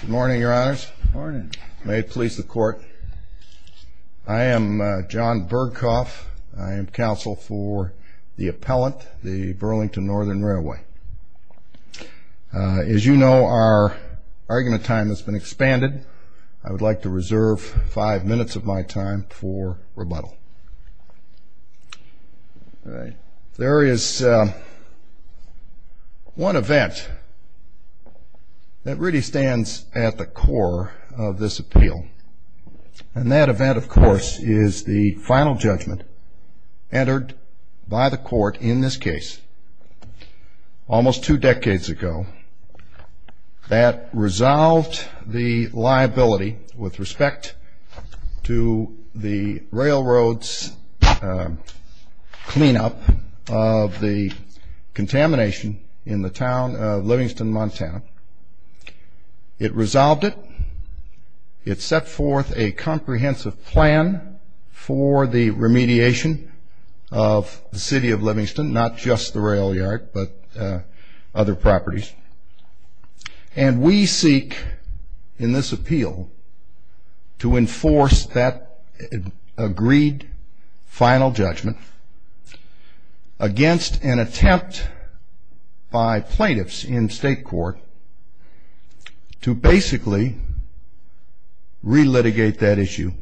Good morning, your honors. May it please the court. I am John Berghoff. I am counsel for the appellant, the Burlington Northern Railway. As you know, our argument time has been expanded. I would like to reserve five minutes of my time for rebuttal. There is one event that really stands at the core of this appeal. And that event, of course, is the final judgment entered by the court in this case almost two decades ago that resolved the liability with respect to the railroad's cleanup of the contamination in the town of Livingston, Montana. It resolved it. It set forth a comprehensive plan for the remediation of the city of Livingston, not just the rail yard but other properties. And we seek in this appeal to enforce that agreed final judgment against an attempt by plaintiffs in state court to basically re-litigate that issue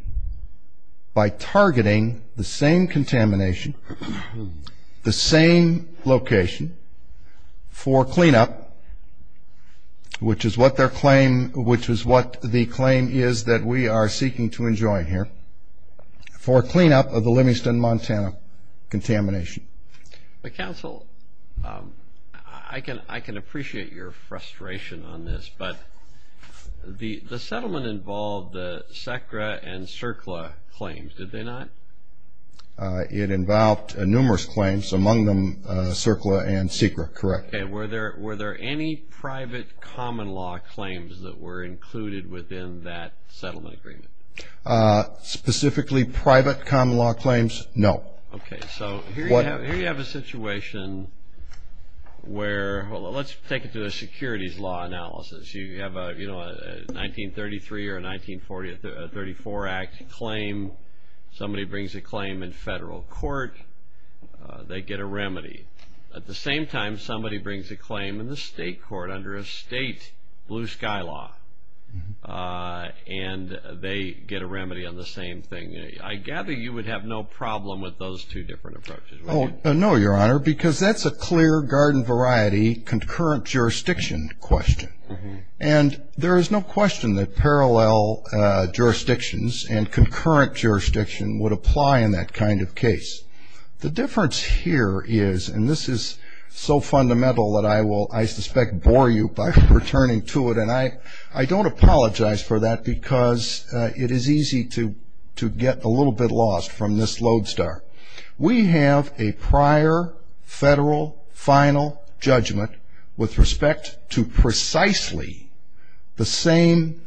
by targeting the same contamination, the same location for cleanup, which is what the claim is that we are seeking to enjoy here, for cleanup of the Livingston, Montana contamination. Counsel, I can appreciate your frustration on this, but the settlement involved the SACRA and CERCLA claims, did they not? It involved numerous claims, among them CERCLA and SECRA, correct. Were there any private common law claims that were included within that settlement agreement? Specifically private common law claims, no. Here you have a situation where, let's take it to a securities law analysis. You have a 1933 or a 1934 act claim, somebody brings a claim in federal court, they get a remedy. At the same time, somebody brings a claim in the state court under a state blue sky law, and they get a remedy on the same thing. I gather you would have no problem with those two different approaches, would you? No, Your Honor, because that's a clear garden variety concurrent jurisdiction question. And there is no question that parallel jurisdictions and concurrent jurisdiction would apply in that kind of case. The difference here is, and this is so fundamental that I will, I suspect, bore you by returning to it, and I don't apologize for that because it is easy to get a little bit lost from this lodestar. We have a prior federal final judgment with respect to precisely the same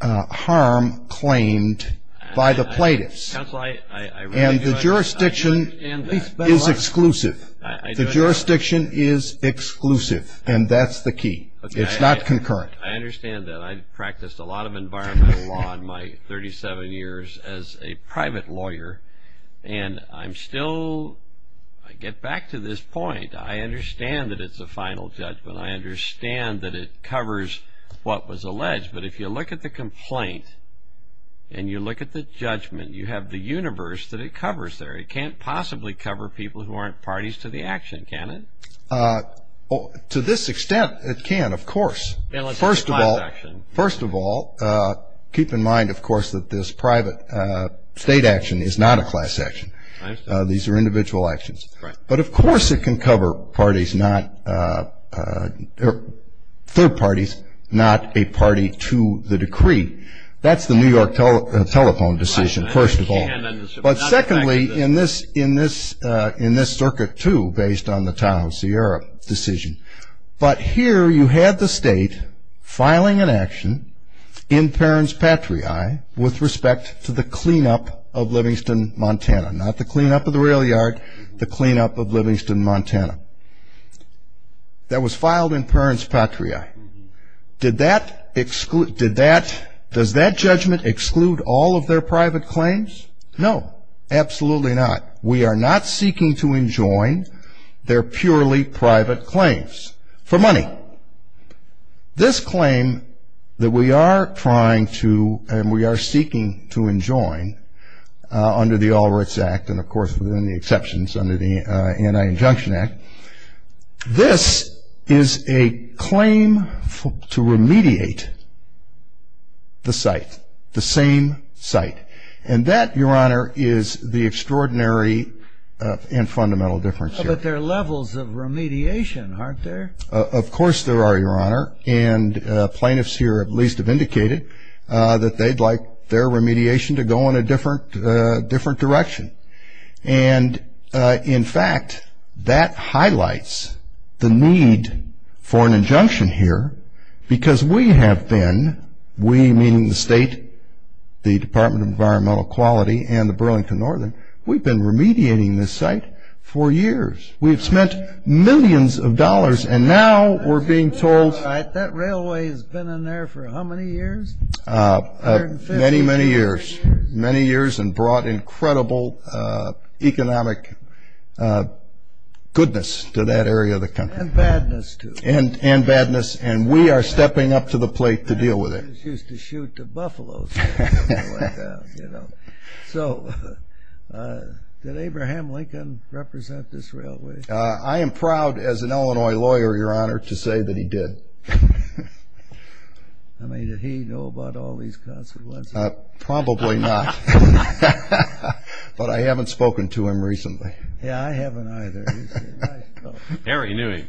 harm claimed by the plaintiffs. And the jurisdiction is exclusive. The jurisdiction is exclusive, and that's the key. It's not concurrent. I understand that. I practiced a lot of environmental law in my 37 years as a private lawyer, and I'm still, I get back to this point. I understand that it's a final judgment. I understand that it covers what was alleged. But if you look at the complaint and you look at the judgment, you have the universe that it covers there. It can't possibly cover people who aren't parties to the action, can it? To this extent, it can, of course. First of all, keep in mind, of course, that this private state action is not a class action. These are individual actions. But of course it can cover parties, third parties, not a party to the decree. That's the New York telephone decision, first of all. But secondly, in this circuit, too, based on the town of Sierra decision. But here you had the state filing an action in Perrins-Patriai with respect to the cleanup of Livingston, Montana. Not the cleanup of the rail yard, the cleanup of Livingston, Montana. That was filed in Perrins-Patriai. Did that, does that judgment exclude all of their private claims? No, absolutely not. We are not seeking to enjoin their purely private claims for money. This claim that we are trying to and we are seeking to enjoin under the All Rights Act and, of course, within the exceptions under the Anti-Injunction Act, this is a claim to remediate the site, the same site. And that, Your Honor, is the extraordinary and fundamental difference here. But there are levels of remediation, aren't there? Of course there are, Your Honor. And plaintiffs here at least have indicated that they'd like their remediation to go in a different direction. And, in fact, that highlights the need for an injunction here because we have been, we meaning the state, the Department of Environmental Quality and the Burlington Northern, we've been remediating this site for years. We've spent millions of dollars and now we're being told... That railway has been in there for how many years? Many, many years. Many years and brought incredible economic goodness to that area of the country. And badness, too. And badness. And we are stepping up to the plate to deal with it. We used to shoot the buffaloes when they went down, you know. So did Abraham Lincoln represent this railway? I am proud as an Illinois lawyer, Your Honor, to say that he did. I mean, did he know about all these consequences? Probably not. But I haven't spoken to him recently. Yeah, I haven't either. Harry knew him.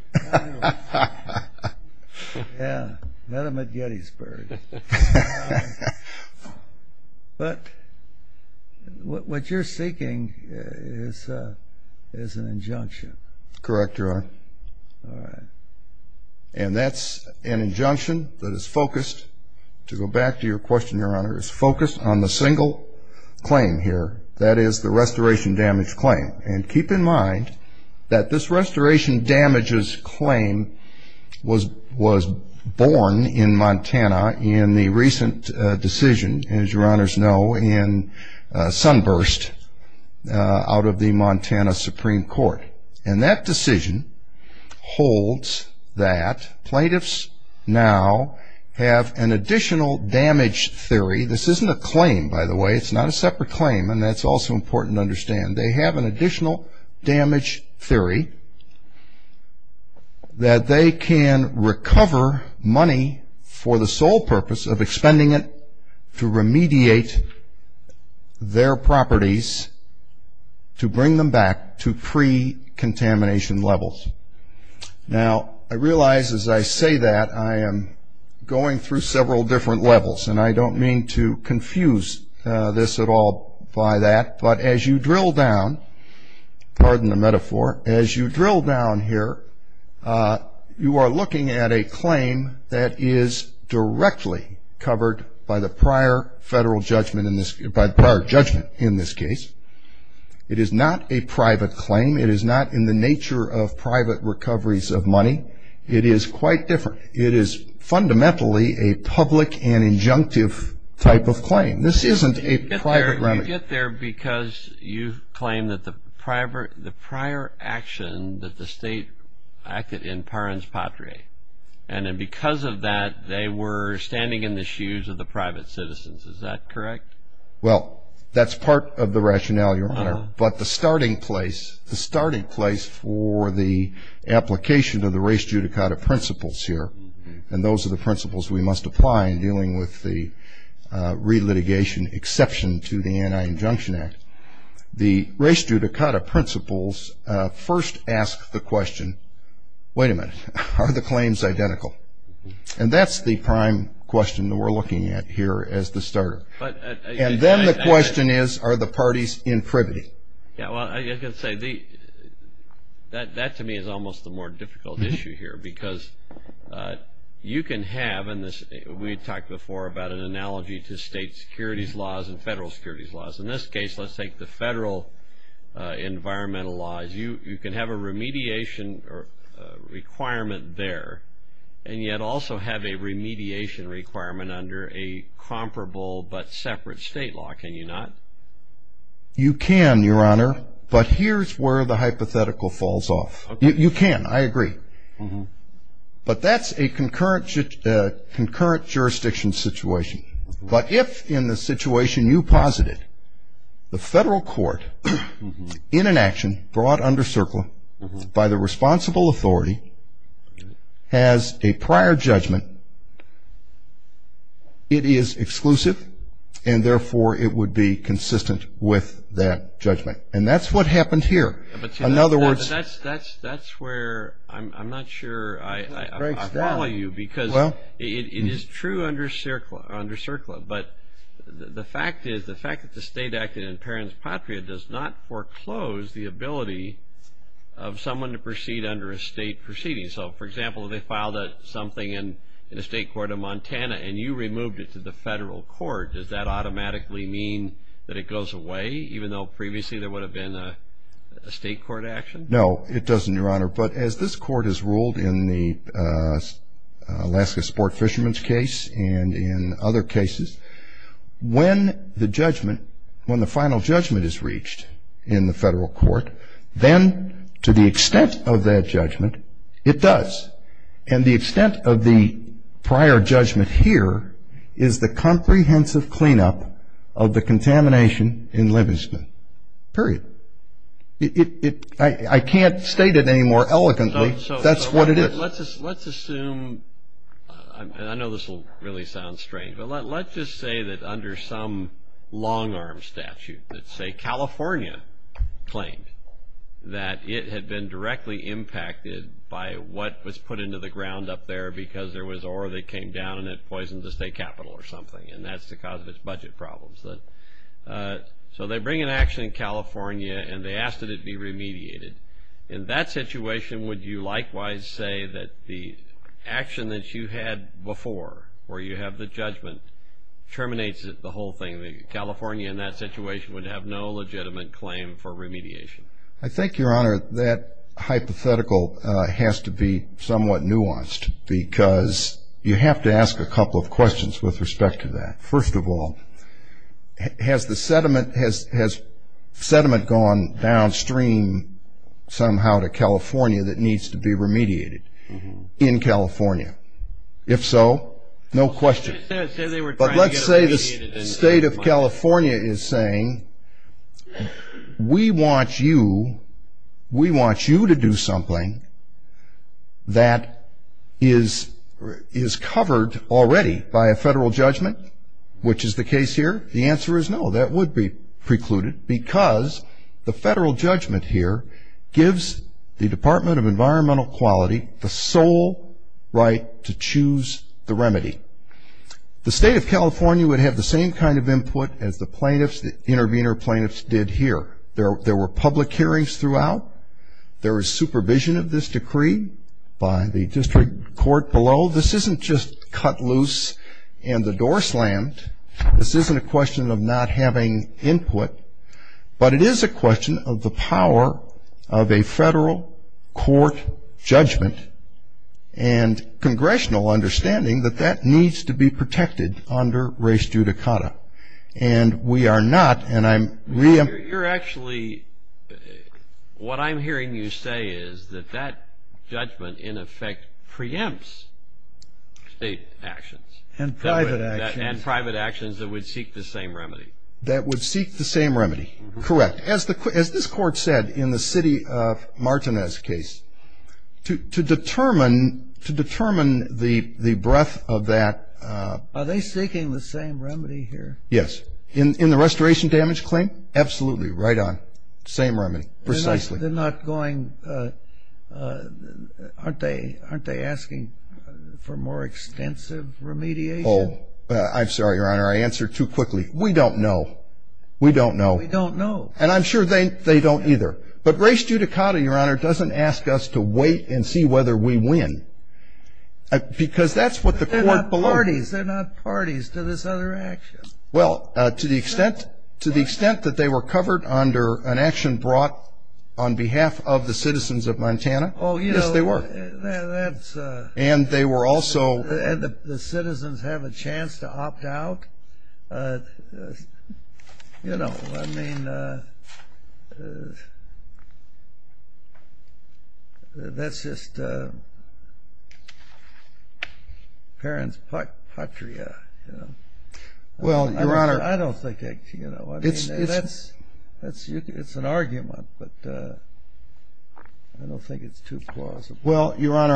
Yeah, met him at Gettysburg. But what you're seeking is an injunction. Correct, Your Honor. And that's an injunction that is focused, to go back to your question, Your Honor, is focused on the single claim here. That is the restoration damage claim. And keep in mind that this restoration damages claim was born in Montana in the recent decision, as Your Honors know, in Sunburst out of the Montana Supreme Court. And that decision holds that plaintiffs now have an additional damage theory. This isn't a claim, by the way. It's not a separate claim, and that's also important to understand. They have an additional damage theory that they can recover money for the sole purpose of expending it to remediate their properties to bring them back to pre-contamination levels. Now, I realize as I say that I am going through several different levels, and I don't mean to confuse this at all by that. But as you drill down, pardon the metaphor, as you drill down here, you are looking at a claim that is directly covered by the prior federal judgment in this case. It is not a private claim. It is not in the nature of private recoveries of money. It is quite different. It is fundamentally a public and injunctive type of claim. This isn't a private remedy. I get there because you claim that the prior action that the state acted in Parens Patria, and then because of that they were standing in the shoes of the private citizens. Is that correct? Well, that's part of the rationale, Your Honor. But the starting place for the application of the race judicata principles here, and those are the principles we must apply in dealing with the re-litigation exception to the Anti-Injunction Act. The race judicata principles first ask the question, wait a minute, are the claims identical? And that's the prime question that we're looking at here as the starter. And then the question is, are the parties in privity? Yeah, well, I can say that to me is almost the more difficult issue here because you can have, and we talked before about an analogy to state securities laws and federal securities laws. In this case, let's take the federal environmental laws. You can have a remediation requirement there, and yet also have a remediation requirement under a comparable but separate state law, can you not? You can, Your Honor, but here's where the hypothetical falls off. You can, I agree. But that's a concurrent jurisdiction situation. But if, in the situation you posited, the federal court, in an action brought under CERCLA by the responsible authority, has a prior judgment, it is exclusive, and therefore it would be consistent with that judgment. And that's what happened here. In other words. But that's where I'm not sure I follow you because it is true under CERCLA, but the fact is the fact that the state acted in parent's patria does not foreclose the ability of someone to proceed under a state proceeding. So, for example, if they filed something in the state court of Montana and you removed it to the federal court, does that automatically mean that it goes away, even though previously there would have been a state court action? No, it doesn't, Your Honor. But as this court has ruled in the Alaska sport fisherman's case and in other cases, when the judgment, when the final judgment is reached in the federal court, then to the extent of that judgment, it does. And the extent of the prior judgment here is the comprehensive cleanup of the contamination in limestone. Period. I can't state it any more elegantly. That's what it is. Let's assume, and I know this will really sound strange, but let's just say that under some long-arm statute, let's say California claimed that it had been directly impacted by what was put into the ground up there because there was ore that came down and it poisoned the state capital or something, and that's the cause of its budget problems. So they bring an action in California and they ask that it be remediated. In that situation, would you likewise say that the action that you had before where you have the judgment terminates the whole thing, that California in that situation would have no legitimate claim for remediation? I think, Your Honor, that hypothetical has to be somewhat nuanced because you have to ask a couple of questions with respect to that. First of all, has sediment gone downstream somehow to California that needs to be remediated in California? If so, no question. But let's say the state of California is saying, we want you to do something that is covered already by a federal judgment, which is the case here. The answer is no, that would be precluded because the federal judgment here gives the Department of Environmental Quality the sole right to choose the remedy. The state of California would have the same kind of input as the plaintiffs, the intervener plaintiffs did here. There were public hearings throughout. There was supervision of this decree by the district court below. This isn't just cut loose and the door slammed. This isn't a question of not having input, but it is a question of the power of a federal court judgment and congressional understanding that that needs to be protected under res judicata. And we are not, and I'm re- You're actually, what I'm hearing you say is that that judgment in effect preempts state actions. And private actions. And private actions that would seek the same remedy. That would seek the same remedy. Correct. As this court said in the city of Martinez case, to determine the breadth of that. Are they seeking the same remedy here? Yes. In the restoration damage claim? Absolutely. Right on. Same remedy. Precisely. They're not going, aren't they asking for more extensive remediation? I'm sorry, Your Honor. I answered too quickly. We don't know. We don't know. We don't know. And I'm sure they don't either. But res judicata, Your Honor, doesn't ask us to wait and see whether we win. Because that's what the court below. They're not parties. They're not parties to this other action. Well, to the extent that they were covered under an action brought on behalf of the citizens of Montana. Yes, they were. And they were also. And the citizens have a chance to opt out. You know, I mean, that's just parent's patria, you know. Well, Your Honor. I don't think, you know, it's an argument. But I don't think it's too plausible. Well, Your Honor,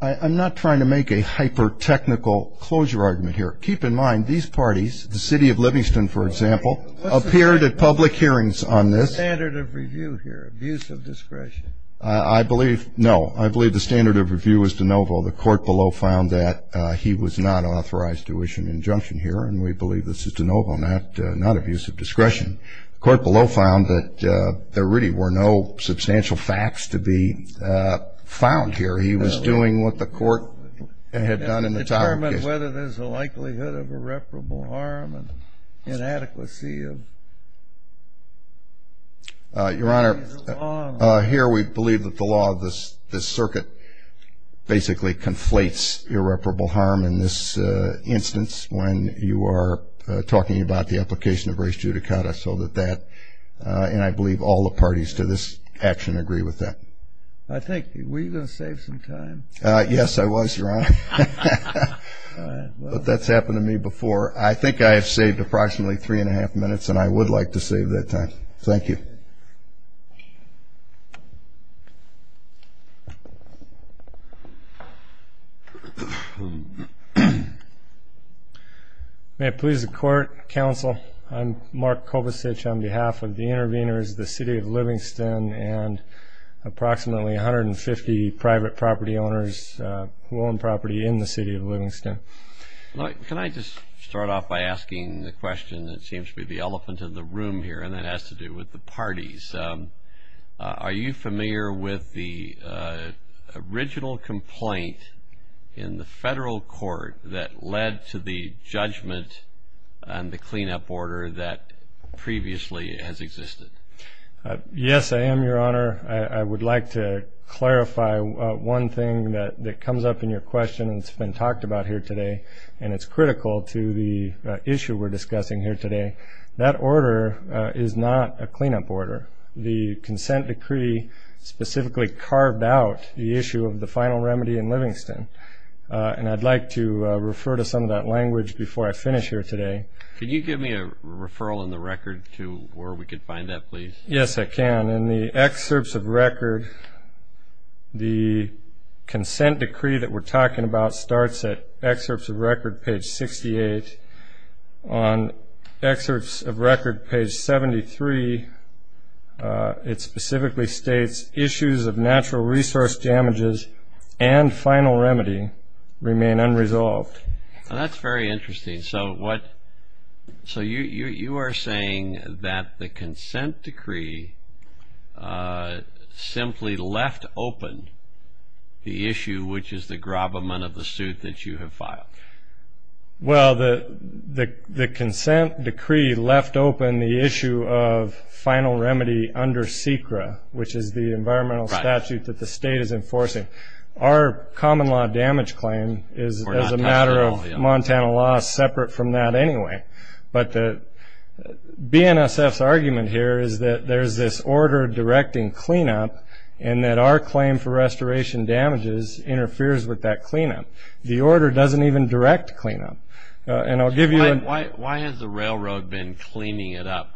I'm not trying to make a hyper-technical closure argument here. Keep in mind, these parties, the city of Livingston, for example, appeared at public hearings on this. What's the standard of review here, abuse of discretion? I believe, no. I believe the standard of review is de novo. The court below found that he was not authorized to issue an injunction here. And we believe this is de novo, not abuse of discretion. The court below found that there really were no substantial facts to be found here. He was doing what the court had done in the Tower case. Determine whether there's a likelihood of irreparable harm and inadequacy of the law. Your Honor, here we believe that the law of this circuit basically conflates irreparable harm. In this instance, when you are talking about the application of res judicata, so that that, and I believe all the parties to this action agree with that. I think, were you going to save some time? Yes, I was, Your Honor. But that's happened to me before. I think I have saved approximately three and a half minutes, and I would like to save that time. Thank you. May it please the Court, Counsel. I'm Mark Kobusich on behalf of the interveners, the City of Livingston, and approximately 150 private property owners who own property in the City of Livingston. Can I just start off by asking the question that seems to be the elephant in the room here, and that has to do with the parties. Are you familiar with the original complaint in the federal court that led to the judgment and the cleanup order that previously has existed? Yes, I am, Your Honor. I would like to clarify one thing that comes up in your question, and it's been talked about here today, and it's critical to the issue we're discussing here today. That order is not a cleanup order. The consent decree specifically carved out the issue of the final remedy in Livingston, and I'd like to refer to some of that language before I finish here today. Can you give me a referral in the record to where we can find that, please? Yes, I can. In the excerpts of record, the consent decree that we're talking about starts at excerpts of record, page 68. On excerpts of record, page 73, it specifically states, issues of natural resource damages and final remedy remain unresolved. That's very interesting. So you are saying that the consent decree simply left open the issue, which is the grabment of the suit that you have filed. Well, the consent decree left open the issue of final remedy under SECRA, which is the environmental statute that the state is enforcing. Our common law damage claim is a matter of Montana law separate from that anyway. But BNSF's argument here is that there's this order directing cleanup and that our claim for restoration damages interferes with that cleanup. The order doesn't even direct cleanup. Why has the railroad been cleaning it up?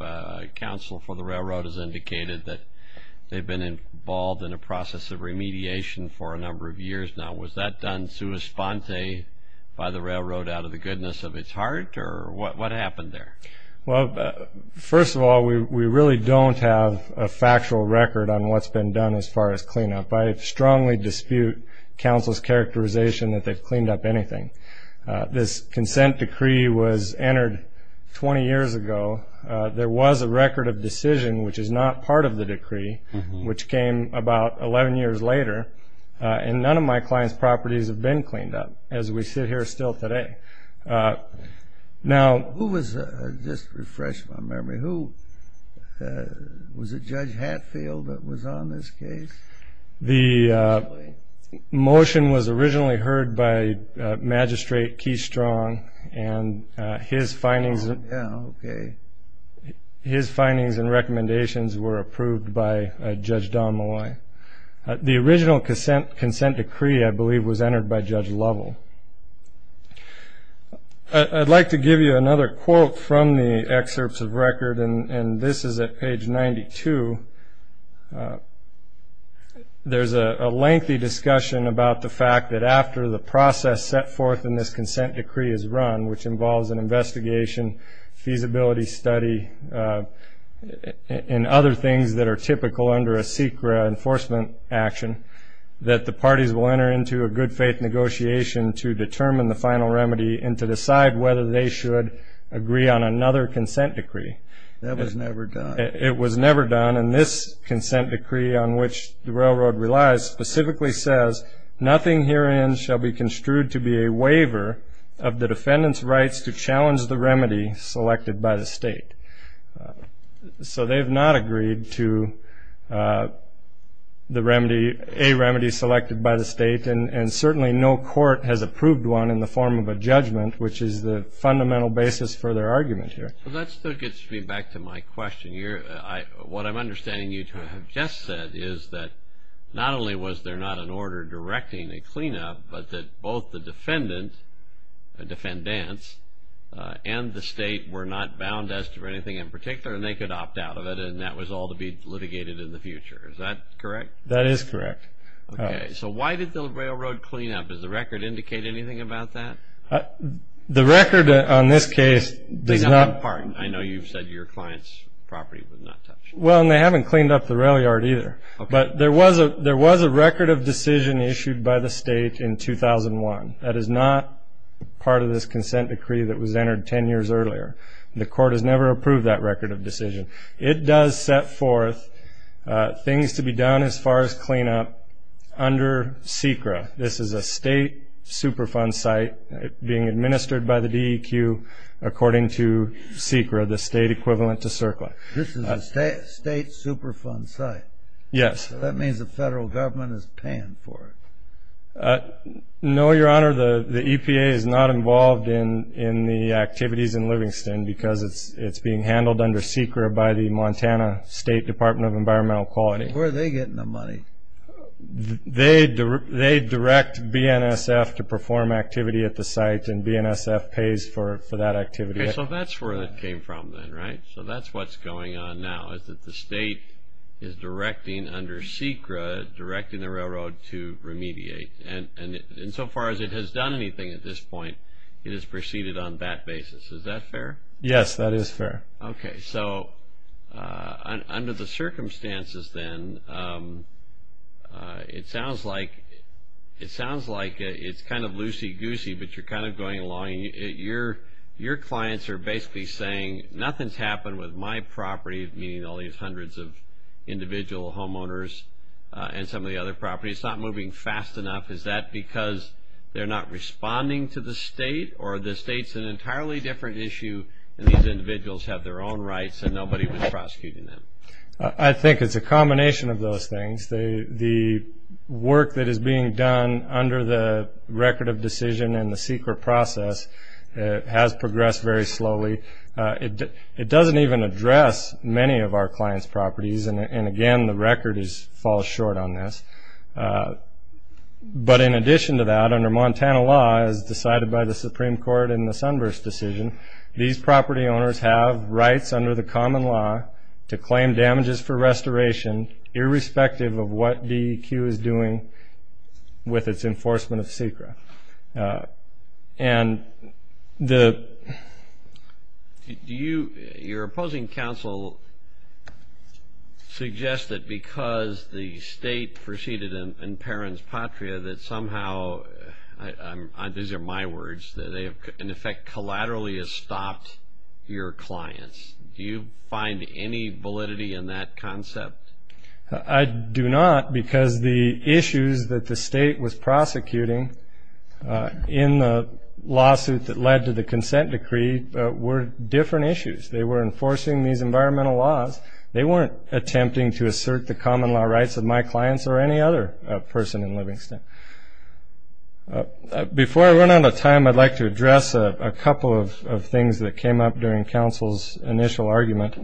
Council for the Railroad has indicated that they've been involved in a process of remediation for a number of years now. Was that done sua sponte by the railroad out of the goodness of its heart, or what happened there? Well, first of all, we really don't have a factual record on what's been done as far as cleanup. I strongly dispute counsel's characterization that they've cleaned up anything. This consent decree was entered 20 years ago. There was a record of decision, which is not part of the decree, which came about 11 years later, and none of my client's properties have been cleaned up as we sit here still today. Who was, just to refresh my memory, who was it, Judge Hatfield that was on this case? The motion was originally heard by Magistrate Key Strong, and his findings and recommendations were approved by Judge Don Molloy. The original consent decree, I believe, was entered by Judge Lovell. I'd like to give you another quote from the excerpts of record, and this is at page 92. There's a lengthy discussion about the fact that after the process set forth in this consent decree is run, which involves an investigation, feasibility study, and other things that are typical under a SECRA enforcement action, that the parties will enter into a good-faith negotiation to determine the final remedy and to decide whether they should agree on another consent decree. That was never done. It was never done, and this consent decree on which the railroad relies specifically says, nothing herein shall be construed to be a waiver of the defendant's rights to challenge the remedy selected by the state. So they have not agreed to a remedy selected by the state, and certainly no court has approved one in the form of a judgment, which is the fundamental basis for their argument here. Well, that still gets me back to my question. What I'm understanding you to have just said is that not only was there not an order directing a cleanup, but that both the defendant and the state were not bound as to anything in particular, and they could opt out of it, and that was all to be litigated in the future. Is that correct? That is correct. Okay. So why did the railroad clean up? Does the record indicate anything about that? The record on this case does not. I know you've said your client's property was not touched. Well, and they haven't cleaned up the rail yard either. Okay. But there was a record of decision issued by the state in 2001. That is not part of this consent decree that was entered 10 years earlier. The court has never approved that record of decision. It does set forth things to be done as far as cleanup under SECRA. This is a state Superfund site being administered by the DEQ according to SECRA, the state equivalent to CERCLA. This is a state Superfund site? Yes. So that means the federal government is paying for it. No, Your Honor, the EPA is not involved in the activities in Livingston because it's being handled under SECRA by the Montana State Department of Environmental Quality. Where are they getting the money? They direct BNSF to perform activity at the site, and BNSF pays for that activity. Okay, so that's where it came from then, right? So that's what's going on now is that the state is directing under SECRA, directing the railroad to remediate. And so far as it has done anything at this point, it has proceeded on that basis. Is that fair? Yes, that is fair. Okay, so under the circumstances then, it sounds like it's kind of loosey-goosey, but you're kind of going along. Your clients are basically saying, nothing's happened with my property, meaning all these hundreds of individual homeowners and some of the other properties. It's not moving fast enough. Is that because they're not responding to the state, or the state's an entirely different issue and these individuals have their own rights and nobody was prosecuting them? I think it's a combination of those things. The work that is being done under the record of decision and the SECRA process has progressed very slowly. It doesn't even address many of our clients' properties, and, again, the record falls short on this. But in addition to that, under Montana law, as decided by the Supreme Court in the Sunburst decision, these property owners have rights under the common law to claim damages for restoration, irrespective of what DEQ is doing with its enforcement of SECRA. And the... Your opposing counsel suggests that because the state proceeded in Perron's Patria that somehow, these are my words, that they have, in effect, collaterally stopped your clients. Do you find any validity in that concept? I do not because the issues that the state was prosecuting in the lawsuit that led to the consent decree were different issues. They were enforcing these environmental laws. They weren't attempting to assert the common law rights of my clients or any other person in Livingston. Before I run out of time, I'd like to address a couple of things that came up during counsel's initial argument.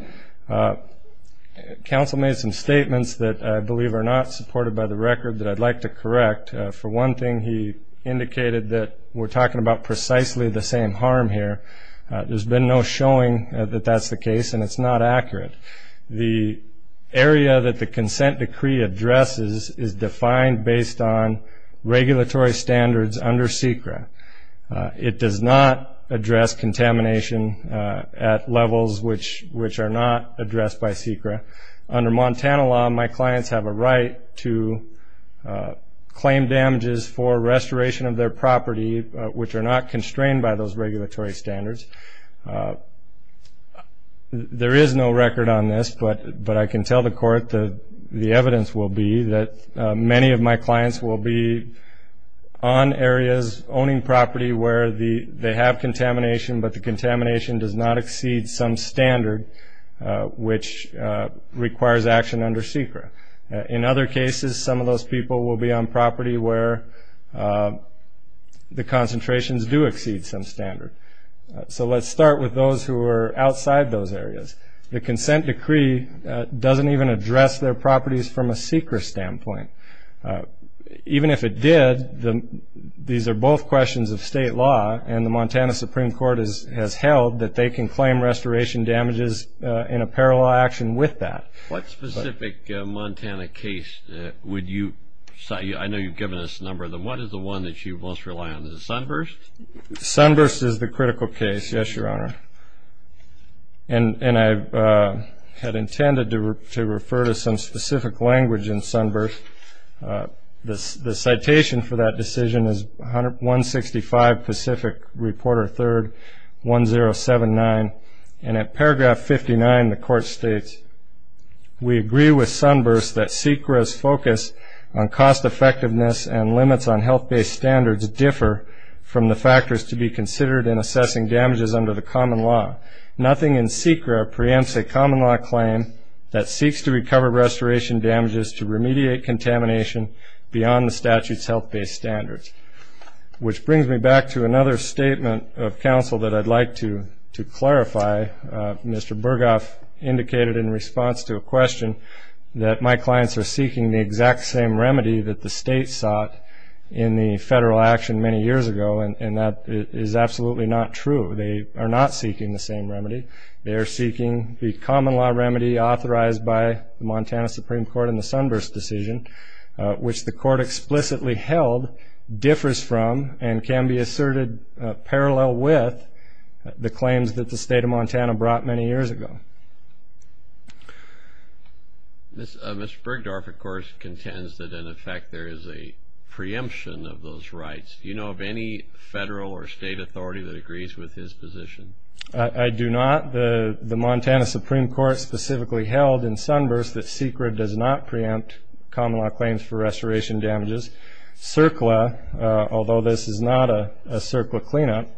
Counsel made some statements that I believe are not supported by the record that I'd like to correct. For one thing, he indicated that we're talking about precisely the same harm here. There's been no showing that that's the case, and it's not accurate. The area that the consent decree addresses is defined based on regulatory standards under SECRA. It does not address contamination at levels which are not addressed by SECRA. Under Montana law, my clients have a right to claim damages for restoration of their property, which are not constrained by those regulatory standards. There is no record on this, but I can tell the court that the evidence will be that many of my clients will be on areas owning property where they have contamination, but the contamination does not exceed some standard which requires action under SECRA. In other cases, some of those people will be on property where the concentrations do exceed some standard. So let's start with those who are outside those areas. The consent decree doesn't even address their properties from a SECRA standpoint. Even if it did, these are both questions of state law, and the Montana Supreme Court has held that they can claim restoration damages in a parallel action with that. What specific Montana case would you cite? I know you've given us a number of them. What is the one that you most rely on? Is it Sunburst? Sunburst is the critical case, yes, Your Honor. And I had intended to refer to some specific language in Sunburst. The citation for that decision is 165 Pacific Reporter 3rd 1079, and at paragraph 59 the court states, We agree with Sunburst that SECRA's focus on cost-effectiveness and limits on health-based standards differ from the factors to be considered in assessing damages under the common law. Nothing in SECRA preempts a common-law claim that seeks to recover restoration damages to remediate contamination beyond the statute's health-based standards. Which brings me back to another statement of counsel that I'd like to clarify. Mr. Burghoff indicated in response to a question that my clients are seeking the exact same remedy that the state sought in the federal action many years ago, and that is absolutely not true. They are not seeking the same remedy. They are seeking the common-law remedy authorized by the Montana Supreme Court in the Sunburst decision, which the court explicitly held differs from and can be asserted parallel with the claims that the state of Montana brought many years ago. Mr. Burghoff, of course, contends that in effect there is a preemption of those rights. Do you know of any federal or state authority that agrees with his position? I do not. The Montana Supreme Court specifically held in Sunburst that SECRA does not preempt common-law claims for restoration damages. CERCLA, although this is not a CERCLA cleanup,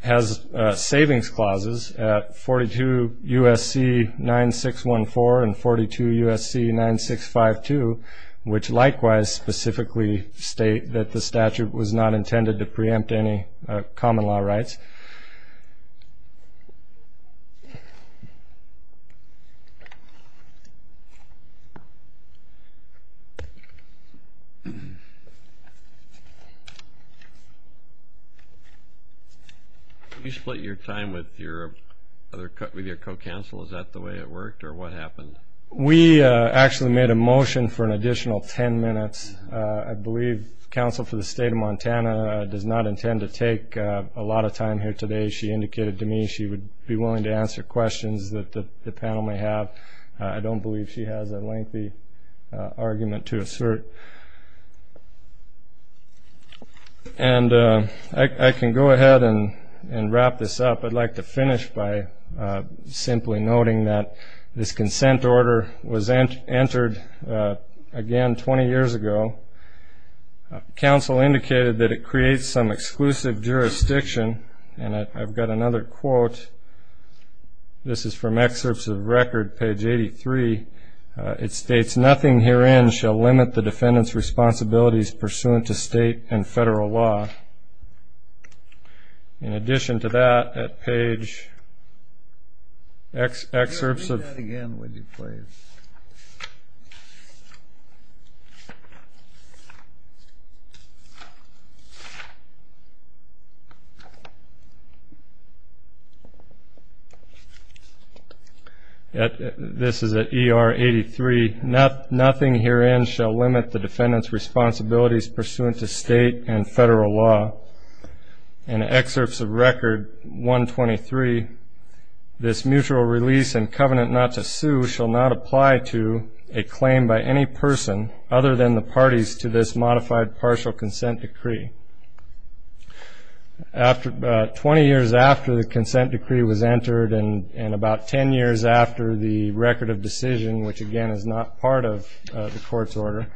has savings clauses at 42 U.S.C. 9614 and 42 U.S.C. 9652, which likewise specifically state that the statute was not intended to preempt any common-law rights. Thank you. Did you split your time with your co-counsel? Is that the way it worked, or what happened? We actually made a motion for an additional 10 minutes. I believe counsel for the state of Montana does not intend to take a lot of time here today. She indicated to me she would be willing to answer questions that the panel may have. I don't believe she has a lengthy argument to assert. I can go ahead and wrap this up. I'd like to finish by simply noting that this consent order was entered again 20 years ago. Counsel indicated that it creates some exclusive jurisdiction, and I've got another quote. This is from excerpts of record, page 83. It states, nothing herein shall limit the defendant's responsibilities pursuant to state and federal law. In addition to that, at page... This is at ER 83. Nothing herein shall limit the defendant's responsibilities pursuant to state and federal law. In excerpts of record 123, this mutual release and covenant not to sue shall not apply to a claim by any person other than the parties to this modified partial consent decree. Twenty years after the consent decree was entered and about 10 years after the record of decision, which, again, is not part of the court's order,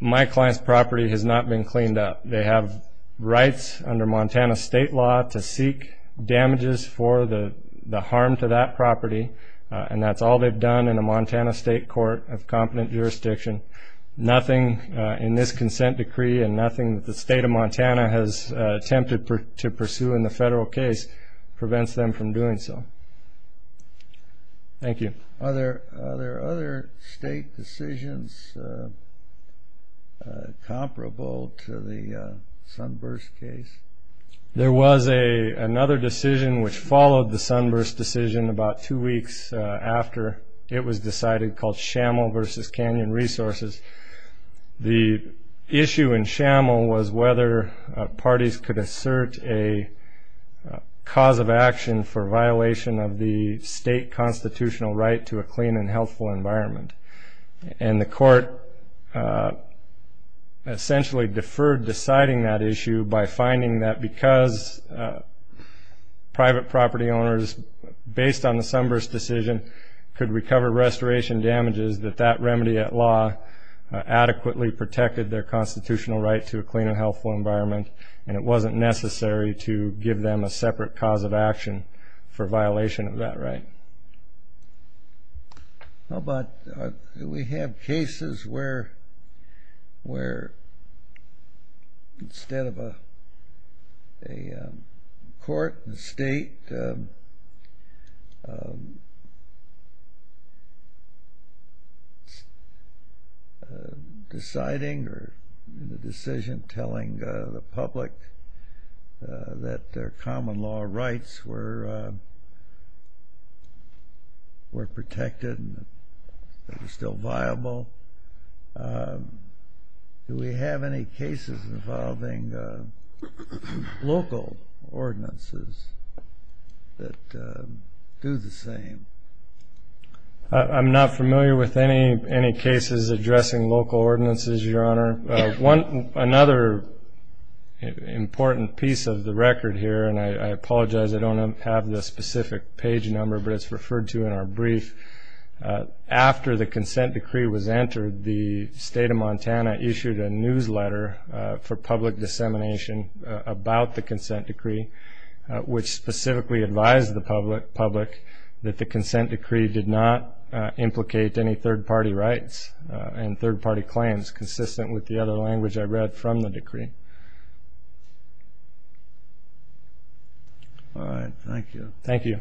my client's property has not been cleaned up. They have rights under Montana state law to seek damages for the harm to that property, and that's all they've done in a Montana state court of competent jurisdiction. Nothing in this consent decree and nothing that the state of Montana has attempted to pursue in the federal case prevents them from doing so. Thank you. Are there other state decisions comparable to the Sunburst case? There was another decision which followed the Sunburst decision about two weeks after it was decided called Schamel v. Canyon Resources. The issue in Schamel was whether parties could assert a cause of action for violation of the state constitutional right to a clean and healthful environment, and the court essentially deferred deciding that issue by finding that because private property owners, based on the Sunburst decision, could recover restoration damages that that remedy at law adequately protected their constitutional right to a clean and healthful environment, and it wasn't necessary to give them a separate cause of action for violation of that right. How about, do we have cases where instead of a court and state deciding or a decision telling the public that their common law rights were protected and still viable, do we have any cases involving local ordinances that do the same? I'm not familiar with any cases addressing local ordinances, Your Honor. Another important piece of the record here, and I apologize, I don't have the specific page number, but it's referred to in our brief. After the consent decree was entered, the state of Montana issued a newsletter for public dissemination about the consent decree, which specifically advised the public that the consent decree did not implicate any third-party rights and third-party claims consistent with the other language I read from the decree. All right. Thank you. Thank you.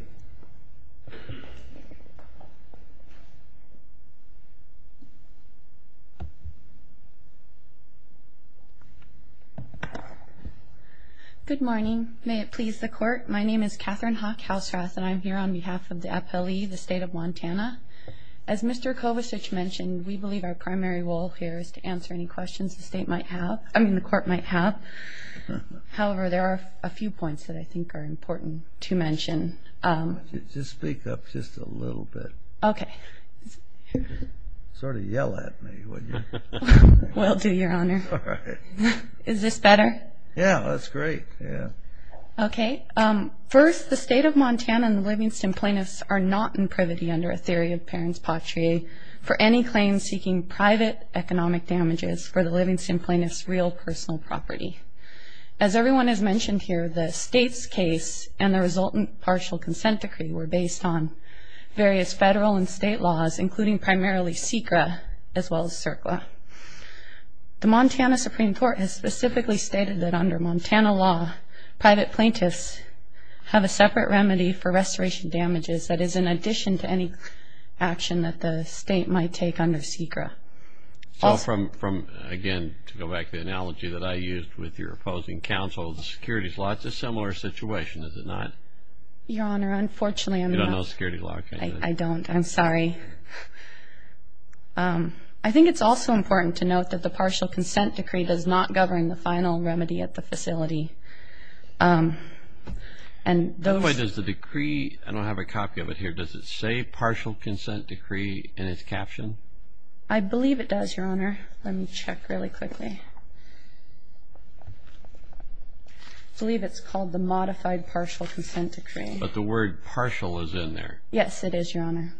Good morning. May it please the Court. My name is Catherine Hawk Housrath, and I'm here on behalf of the appellee, the state of Montana. As Mr. Kovacic mentioned, we believe our primary role here is to answer any questions the state might have, I mean the Court might have. However, there are a few points that I think are important to mention. Just speak up just a little bit. Okay. Sort of yell at me, wouldn't you? Will do, Your Honor. All right. Is this better? Yeah, that's great. Yeah. Okay. First, the state of Montana and the Livingston plaintiffs are not in privity under a theory of parent's patrie for any claims seeking private economic damages for the Livingston plaintiff's real personal property. As everyone has mentioned here, the state's case and the resultant partial consent decree were based on various federal and state laws, including primarily SECRA as well as CERCLA. The Montana Supreme Court has specifically stated that under Montana law, private plaintiffs have a separate remedy for restoration damages that is in addition to any action that the state might take under SECRA. So from, again, to go back to the analogy that I used with your opposing counsel, the securities law, it's a similar situation, is it not? Your Honor, unfortunately I'm not. You don't know security law, do you? I don't. I'm sorry. I think it's also important to note that the partial consent decree does not govern the final remedy at the facility. By the way, does the decree, I don't have a copy of it here, does it say partial consent decree in its caption? I believe it does, Your Honor. Let me check really quickly. I believe it's called the modified partial consent decree. But the word partial is in there. Yes, it is, Your Honor.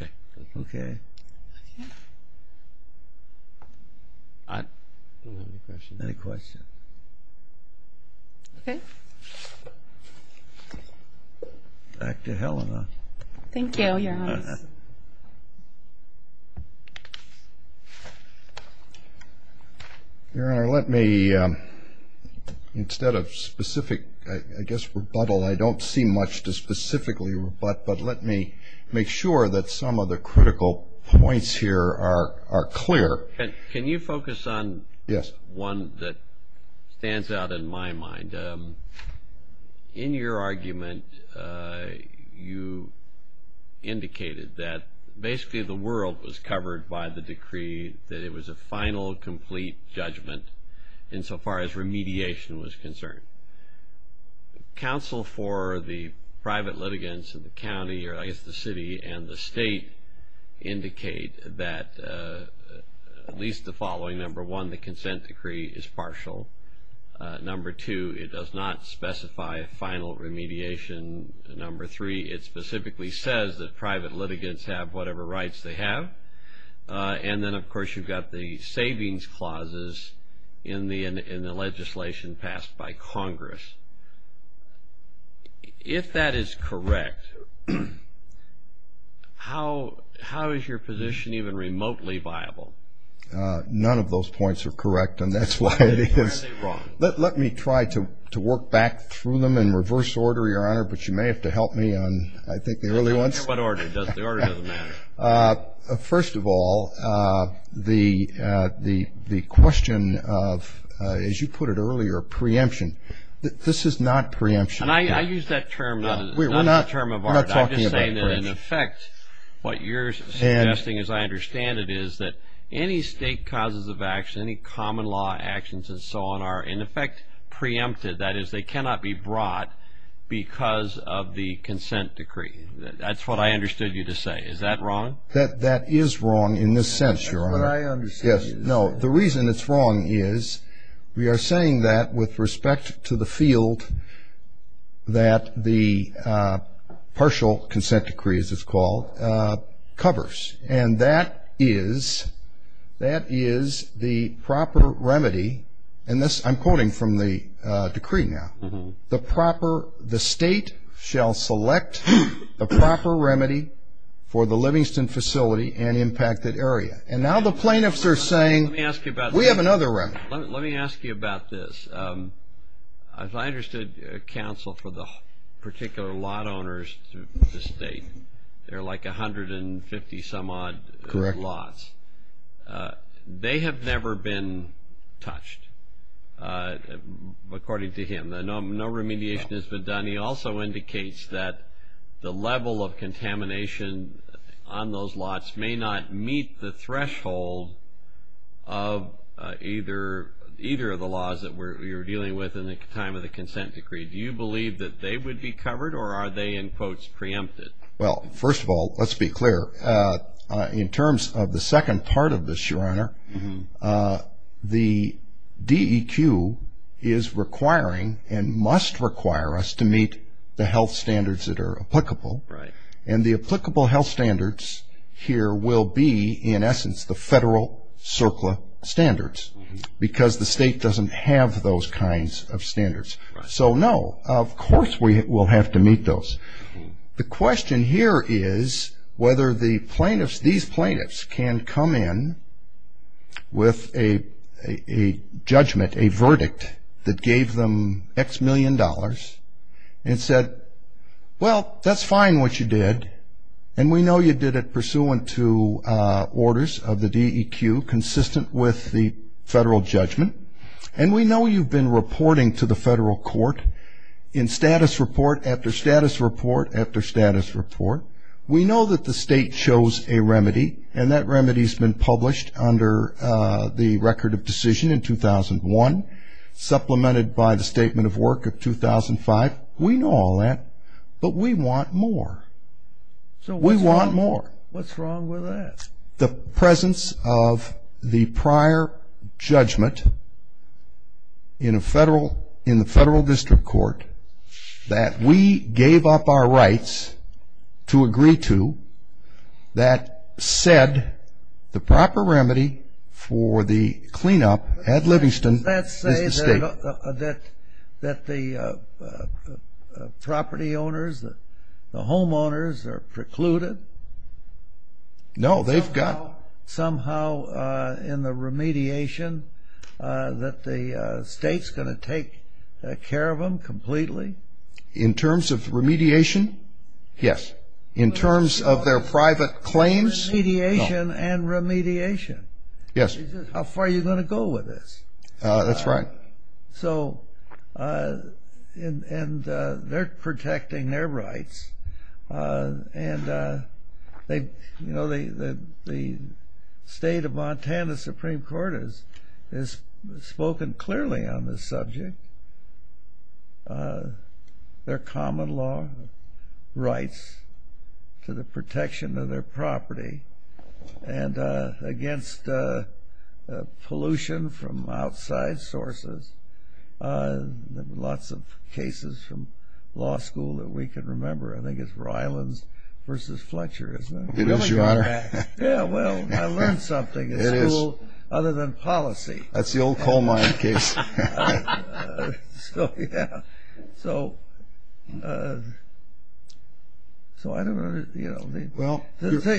Okay. Okay. I don't have any questions. Any questions? Okay. Back to Helena. Your Honor, I have a question. Your Honor, let me, instead of specific, I guess, rebuttal, I don't see much to specifically rebut, but let me make sure that some of the critical points here are clear. Can you focus on one that stands out in my mind? In your argument, you indicated that basically the world was covered by the decree, that it was a final, complete judgment insofar as remediation was concerned. Counsel for the private litigants in the county, or I guess the city and the state, indicate that at least the following. Number one, the consent decree is partial. Number two, it does not specify a final remediation. Number three, it specifically says that private litigants have whatever rights they have. And then, of course, you've got the savings clauses in the legislation passed by Congress. If that is correct, how is your position even remotely viable? None of those points are correct, and that's why it is. Let me try to work back through them in reverse order, Your Honor, but you may have to help me on, I think, the early ones. What order? The order doesn't matter. First of all, the question of, as you put it earlier, preemption. This is not preemption. I use that term not as a term of art. I'm just saying that, in effect, what you're suggesting, as I understand it, is that any state causes of action, any common law actions and so on, are, in effect, preempted. That is, they cannot be brought because of the consent decree. That's what I understood you to say. Is that wrong? That is wrong in this sense, Your Honor. That's what I understand. Yes. No, the reason it's wrong is we are saying that with respect to the field that the partial consent decree, as it's called, covers, and that is the proper remedy. I'm quoting from the decree now. The state shall select the proper remedy for the Livingston facility and impacted area. And now the plaintiffs are saying we have another remedy. Let me ask you about this. As I understood, counsel, for the particular lot owners to the state, there are like 150-some odd lots. Correct. They have never been touched, according to him. No remediation has been done. He also indicates that the level of contamination on those lots may not meet the threshold of either of the laws that you're dealing with in the time of the consent decree. Do you believe that they would be covered, or are they, in quotes, preempted? Well, first of all, let's be clear. In terms of the second part of this, Your Honor, the DEQ is requiring and must require us to meet the health standards that are applicable. And the applicable health standards here will be, in essence, the federal CERCLA standards because the state doesn't have those kinds of standards. So, no, of course we will have to meet those. The question here is whether these plaintiffs can come in with a judgment, a verdict that gave them X million dollars and said, well, that's fine what you did, and we know you did it pursuant to orders of the DEQ consistent with the federal judgment, and we know you've been reporting to the federal court in status report after status report after status report. We know that the state chose a remedy, and that remedy has been published under the Record of Decision in 2001, supplemented by the Statement of Work of 2005. We know all that, but we want more. We want more. What's wrong with that? The presence of the prior judgment in the federal district court that we gave up our rights to agree to, that said the proper remedy for the cleanup at Livingston is the state. Does that say that the property owners, the homeowners are precluded? No, they've got. Somehow in the remediation that the state's going to take care of them completely? In terms of remediation? Yes. In terms of their private claims? Remediation and remediation. Yes. How far are you going to go with this? That's right. And they're protecting their rights. And the state of Montana Supreme Court has spoken clearly on this subject. Their common law rights to the protection of their property and against pollution from outside sources. Lots of cases from law school that we can remember. I think it's Rylands v. Fletcher, isn't it? It is, Your Honor. Yeah, well, I learned something in school other than policy. That's the old coal mine case. So, yeah, so I don't know.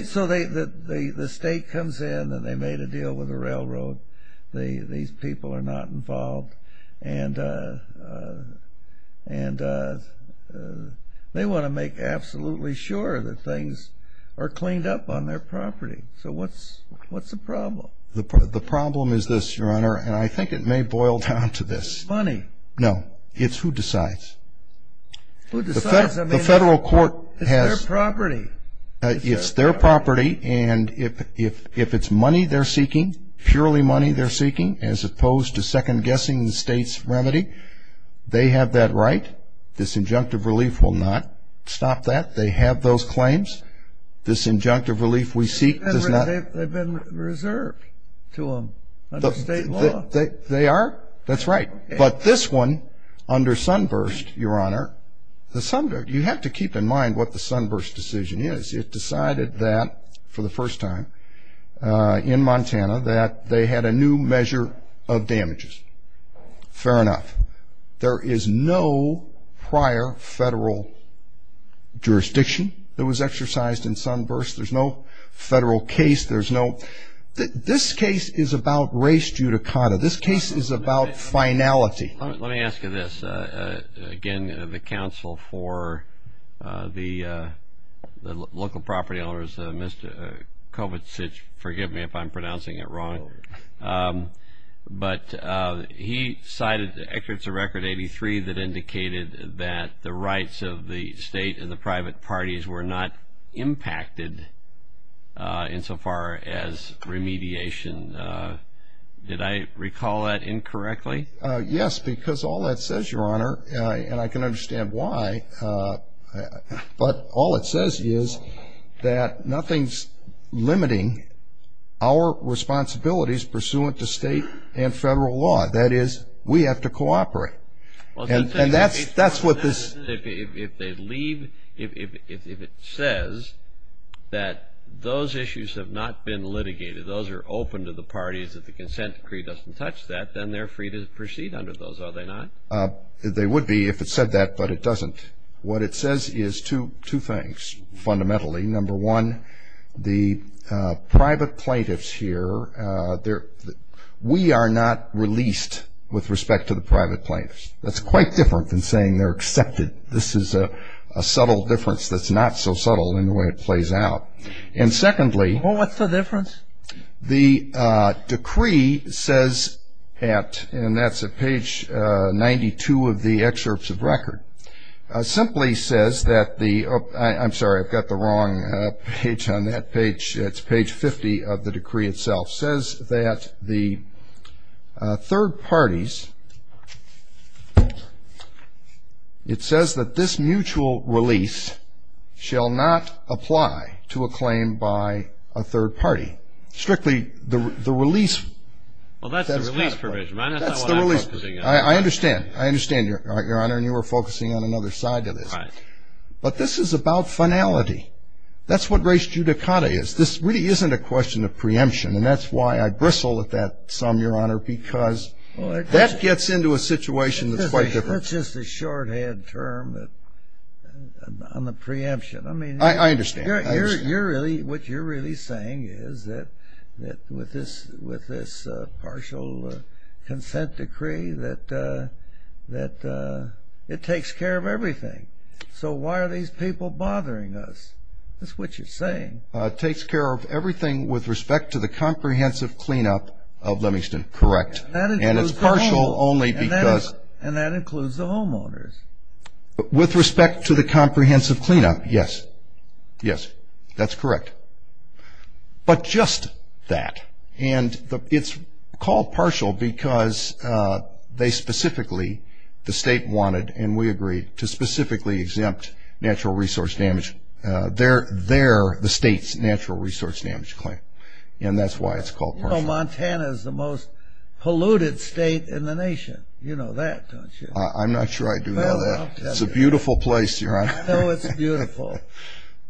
So the state comes in and they made a deal with the railroad. These people are not involved. And they want to make absolutely sure that things are cleaned up on their property. So what's the problem? The problem is this, Your Honor, and I think it may boil down to this. Money. No. It's who decides. Who decides? I mean, it's their property. It's their property, and if it's money they're seeking, purely money they're seeking, as opposed to second-guessing the state's remedy, they have that right. This injunctive relief will not stop that. They have those claims. This injunctive relief we seek does not. But they've been reserved to them under state law. They are? That's right. But this one, under Sunburst, Your Honor, the Sunburst, you have to keep in mind what the Sunburst decision is. It decided that, for the first time in Montana, that they had a new measure of damages. Fair enough. There is no prior federal jurisdiction that was exercised in Sunburst. There's no federal case. This case is about race judicata. This case is about finality. Let me ask you this. Again, the counsel for the local property owners, Mr. Kovatsich, forgive me if I'm pronouncing it wrong, but he cited the excerpts of Record 83 that indicated that the rights of the state and the private parties were not impacted insofar as remediation. Did I recall that incorrectly? Yes, because all that says, Your Honor, and I can understand why, but all it says is that nothing's limiting our responsibilities pursuant to state and federal law. That is, we have to cooperate, and that's what this ---- If they leave, if it says that those issues have not been litigated, those are open to the parties, if the consent decree doesn't touch that, then they're free to proceed under those, are they not? They would be if it said that, but it doesn't. What it says is two things, fundamentally. Number one, the private plaintiffs here, we are not released with respect to the private plaintiffs. That's quite different than saying they're accepted. This is a subtle difference that's not so subtle in the way it plays out. And secondly ---- Well, what's the difference? The decree says that, and that's at page 92 of the excerpts of record, simply says that the ---- I'm sorry, I've got the wrong page on that page. It's page 50 of the decree itself. It says that the third parties ---- Well, that's the release provision. That's not what I'm focusing on. I understand. I understand, Your Honor, and you were focusing on another side of this. Right. But this is about finality. That's what res judicata is. This really isn't a question of preemption, and that's why I bristle at that sum, Your Honor, because that gets into a situation that's quite different. That's just a shorthand term on the preemption. I mean ---- I understand. What you're really saying is that with this partial consent decree that it takes care of everything. So why are these people bothering us? That's what you're saying. It takes care of everything with respect to the comprehensive cleanup of Livingston, correct. And that includes the homeowners. And it's partial only because ---- And that includes the homeowners. With respect to the comprehensive cleanup, yes. Yes, that's correct. But just that, and it's called partial because they specifically, the state wanted, and we agreed to specifically exempt natural resource damage. They're the state's natural resource damage claim, and that's why it's called partial. You know Montana is the most polluted state in the nation. You know that, don't you? I'm not sure I do know that. Well, I'll tell you. It's a beautiful place, your Honor. I know it's beautiful,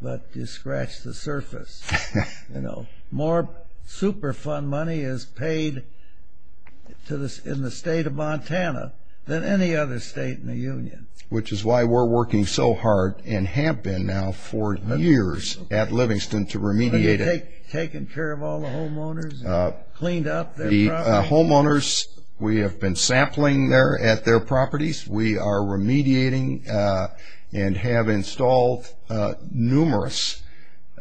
but you scratch the surface. You know, more Superfund money is paid in the state of Montana than any other state in the union. Which is why we're working so hard in Hampton now for years at Livingston to remediate it. Are they taking care of all the homeowners and cleaned up their property? We have been sampling there at their properties. We are remediating and have installed numerous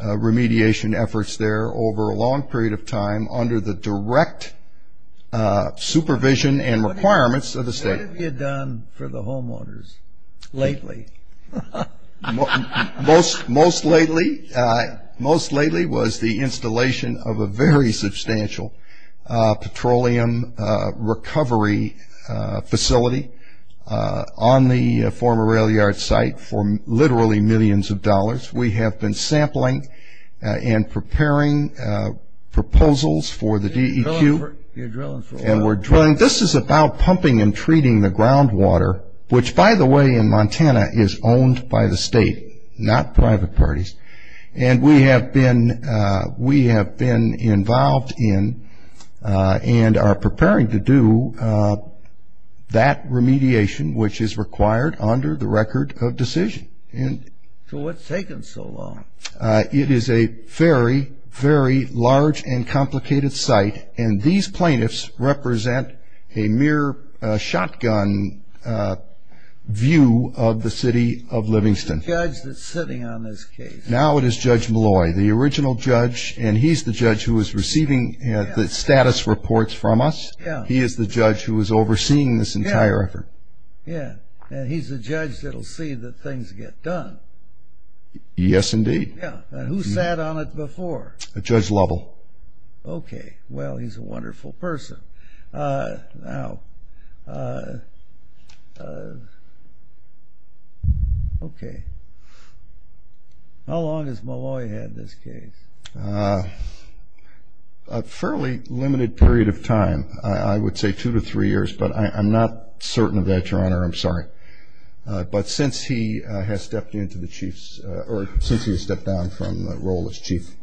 remediation efforts there over a long period of time under the direct supervision and requirements of the state. What have you done for the homeowners lately? Most lately was the installation of a very substantial petroleum recovery facility on the former rail yard site for literally millions of dollars. We have been sampling and preparing proposals for the DEQ. And we're drilling. And this is about pumping and treating the groundwater, which by the way in Montana is owned by the state, not private parties. And we have been involved in and are preparing to do that remediation, which is required under the record of decision. So what's taken so long? It is a very, very large and complicated site. And these plaintiffs represent a mere shotgun view of the city of Livingston. Who's the judge that's sitting on this case? Now it is Judge Malloy, the original judge. And he's the judge who is receiving the status reports from us. He is the judge who is overseeing this entire effort. Yeah, and he's the judge that will see that things get done. Yes, indeed. Who sat on it before? Judge Lovell. Okay. Well, he's a wonderful person. Now, okay. How long has Malloy had this case? A fairly limited period of time. I would say two to three years, but I'm not certain of that, Your Honor. I'm sorry. But since he has stepped down from the role as chief.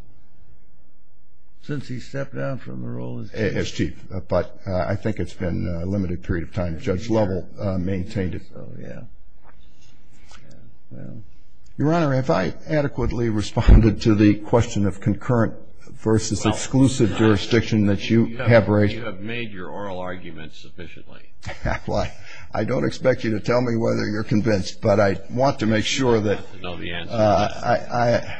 Since he stepped down from the role as chief? As chief, but I think it's been a limited period of time. Judge Lovell maintained it. Oh, yeah. Your Honor, have I adequately responded to the question of concurrent versus exclusive jurisdiction that you have raised? You have made your oral argument sufficiently. Well, I don't expect you to tell me whether you're convinced, but I want to make sure that I.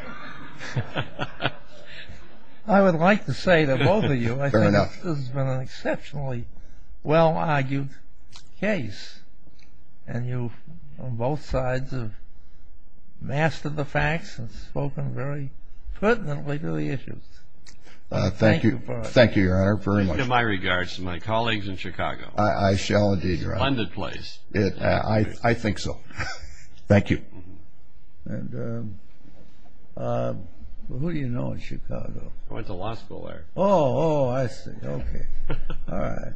I would like to say to both of you. Fair enough. This has been an exceptionally well-argued case, and you on both sides have mastered the facts and spoken very pertinently to the issues. Thank you. Thank you, Your Honor, very much. I give my regards to my colleagues in Chicago. I shall, indeed, Your Honor. It's a splendid place. I think so. Thank you. And who do you know in Chicago? I went to law school there. Oh, I see. Okay. All right.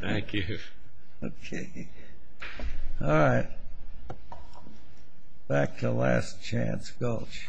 Thank you. Okay. All right. Back to Last Chance Gulch. Thank you. Thank you.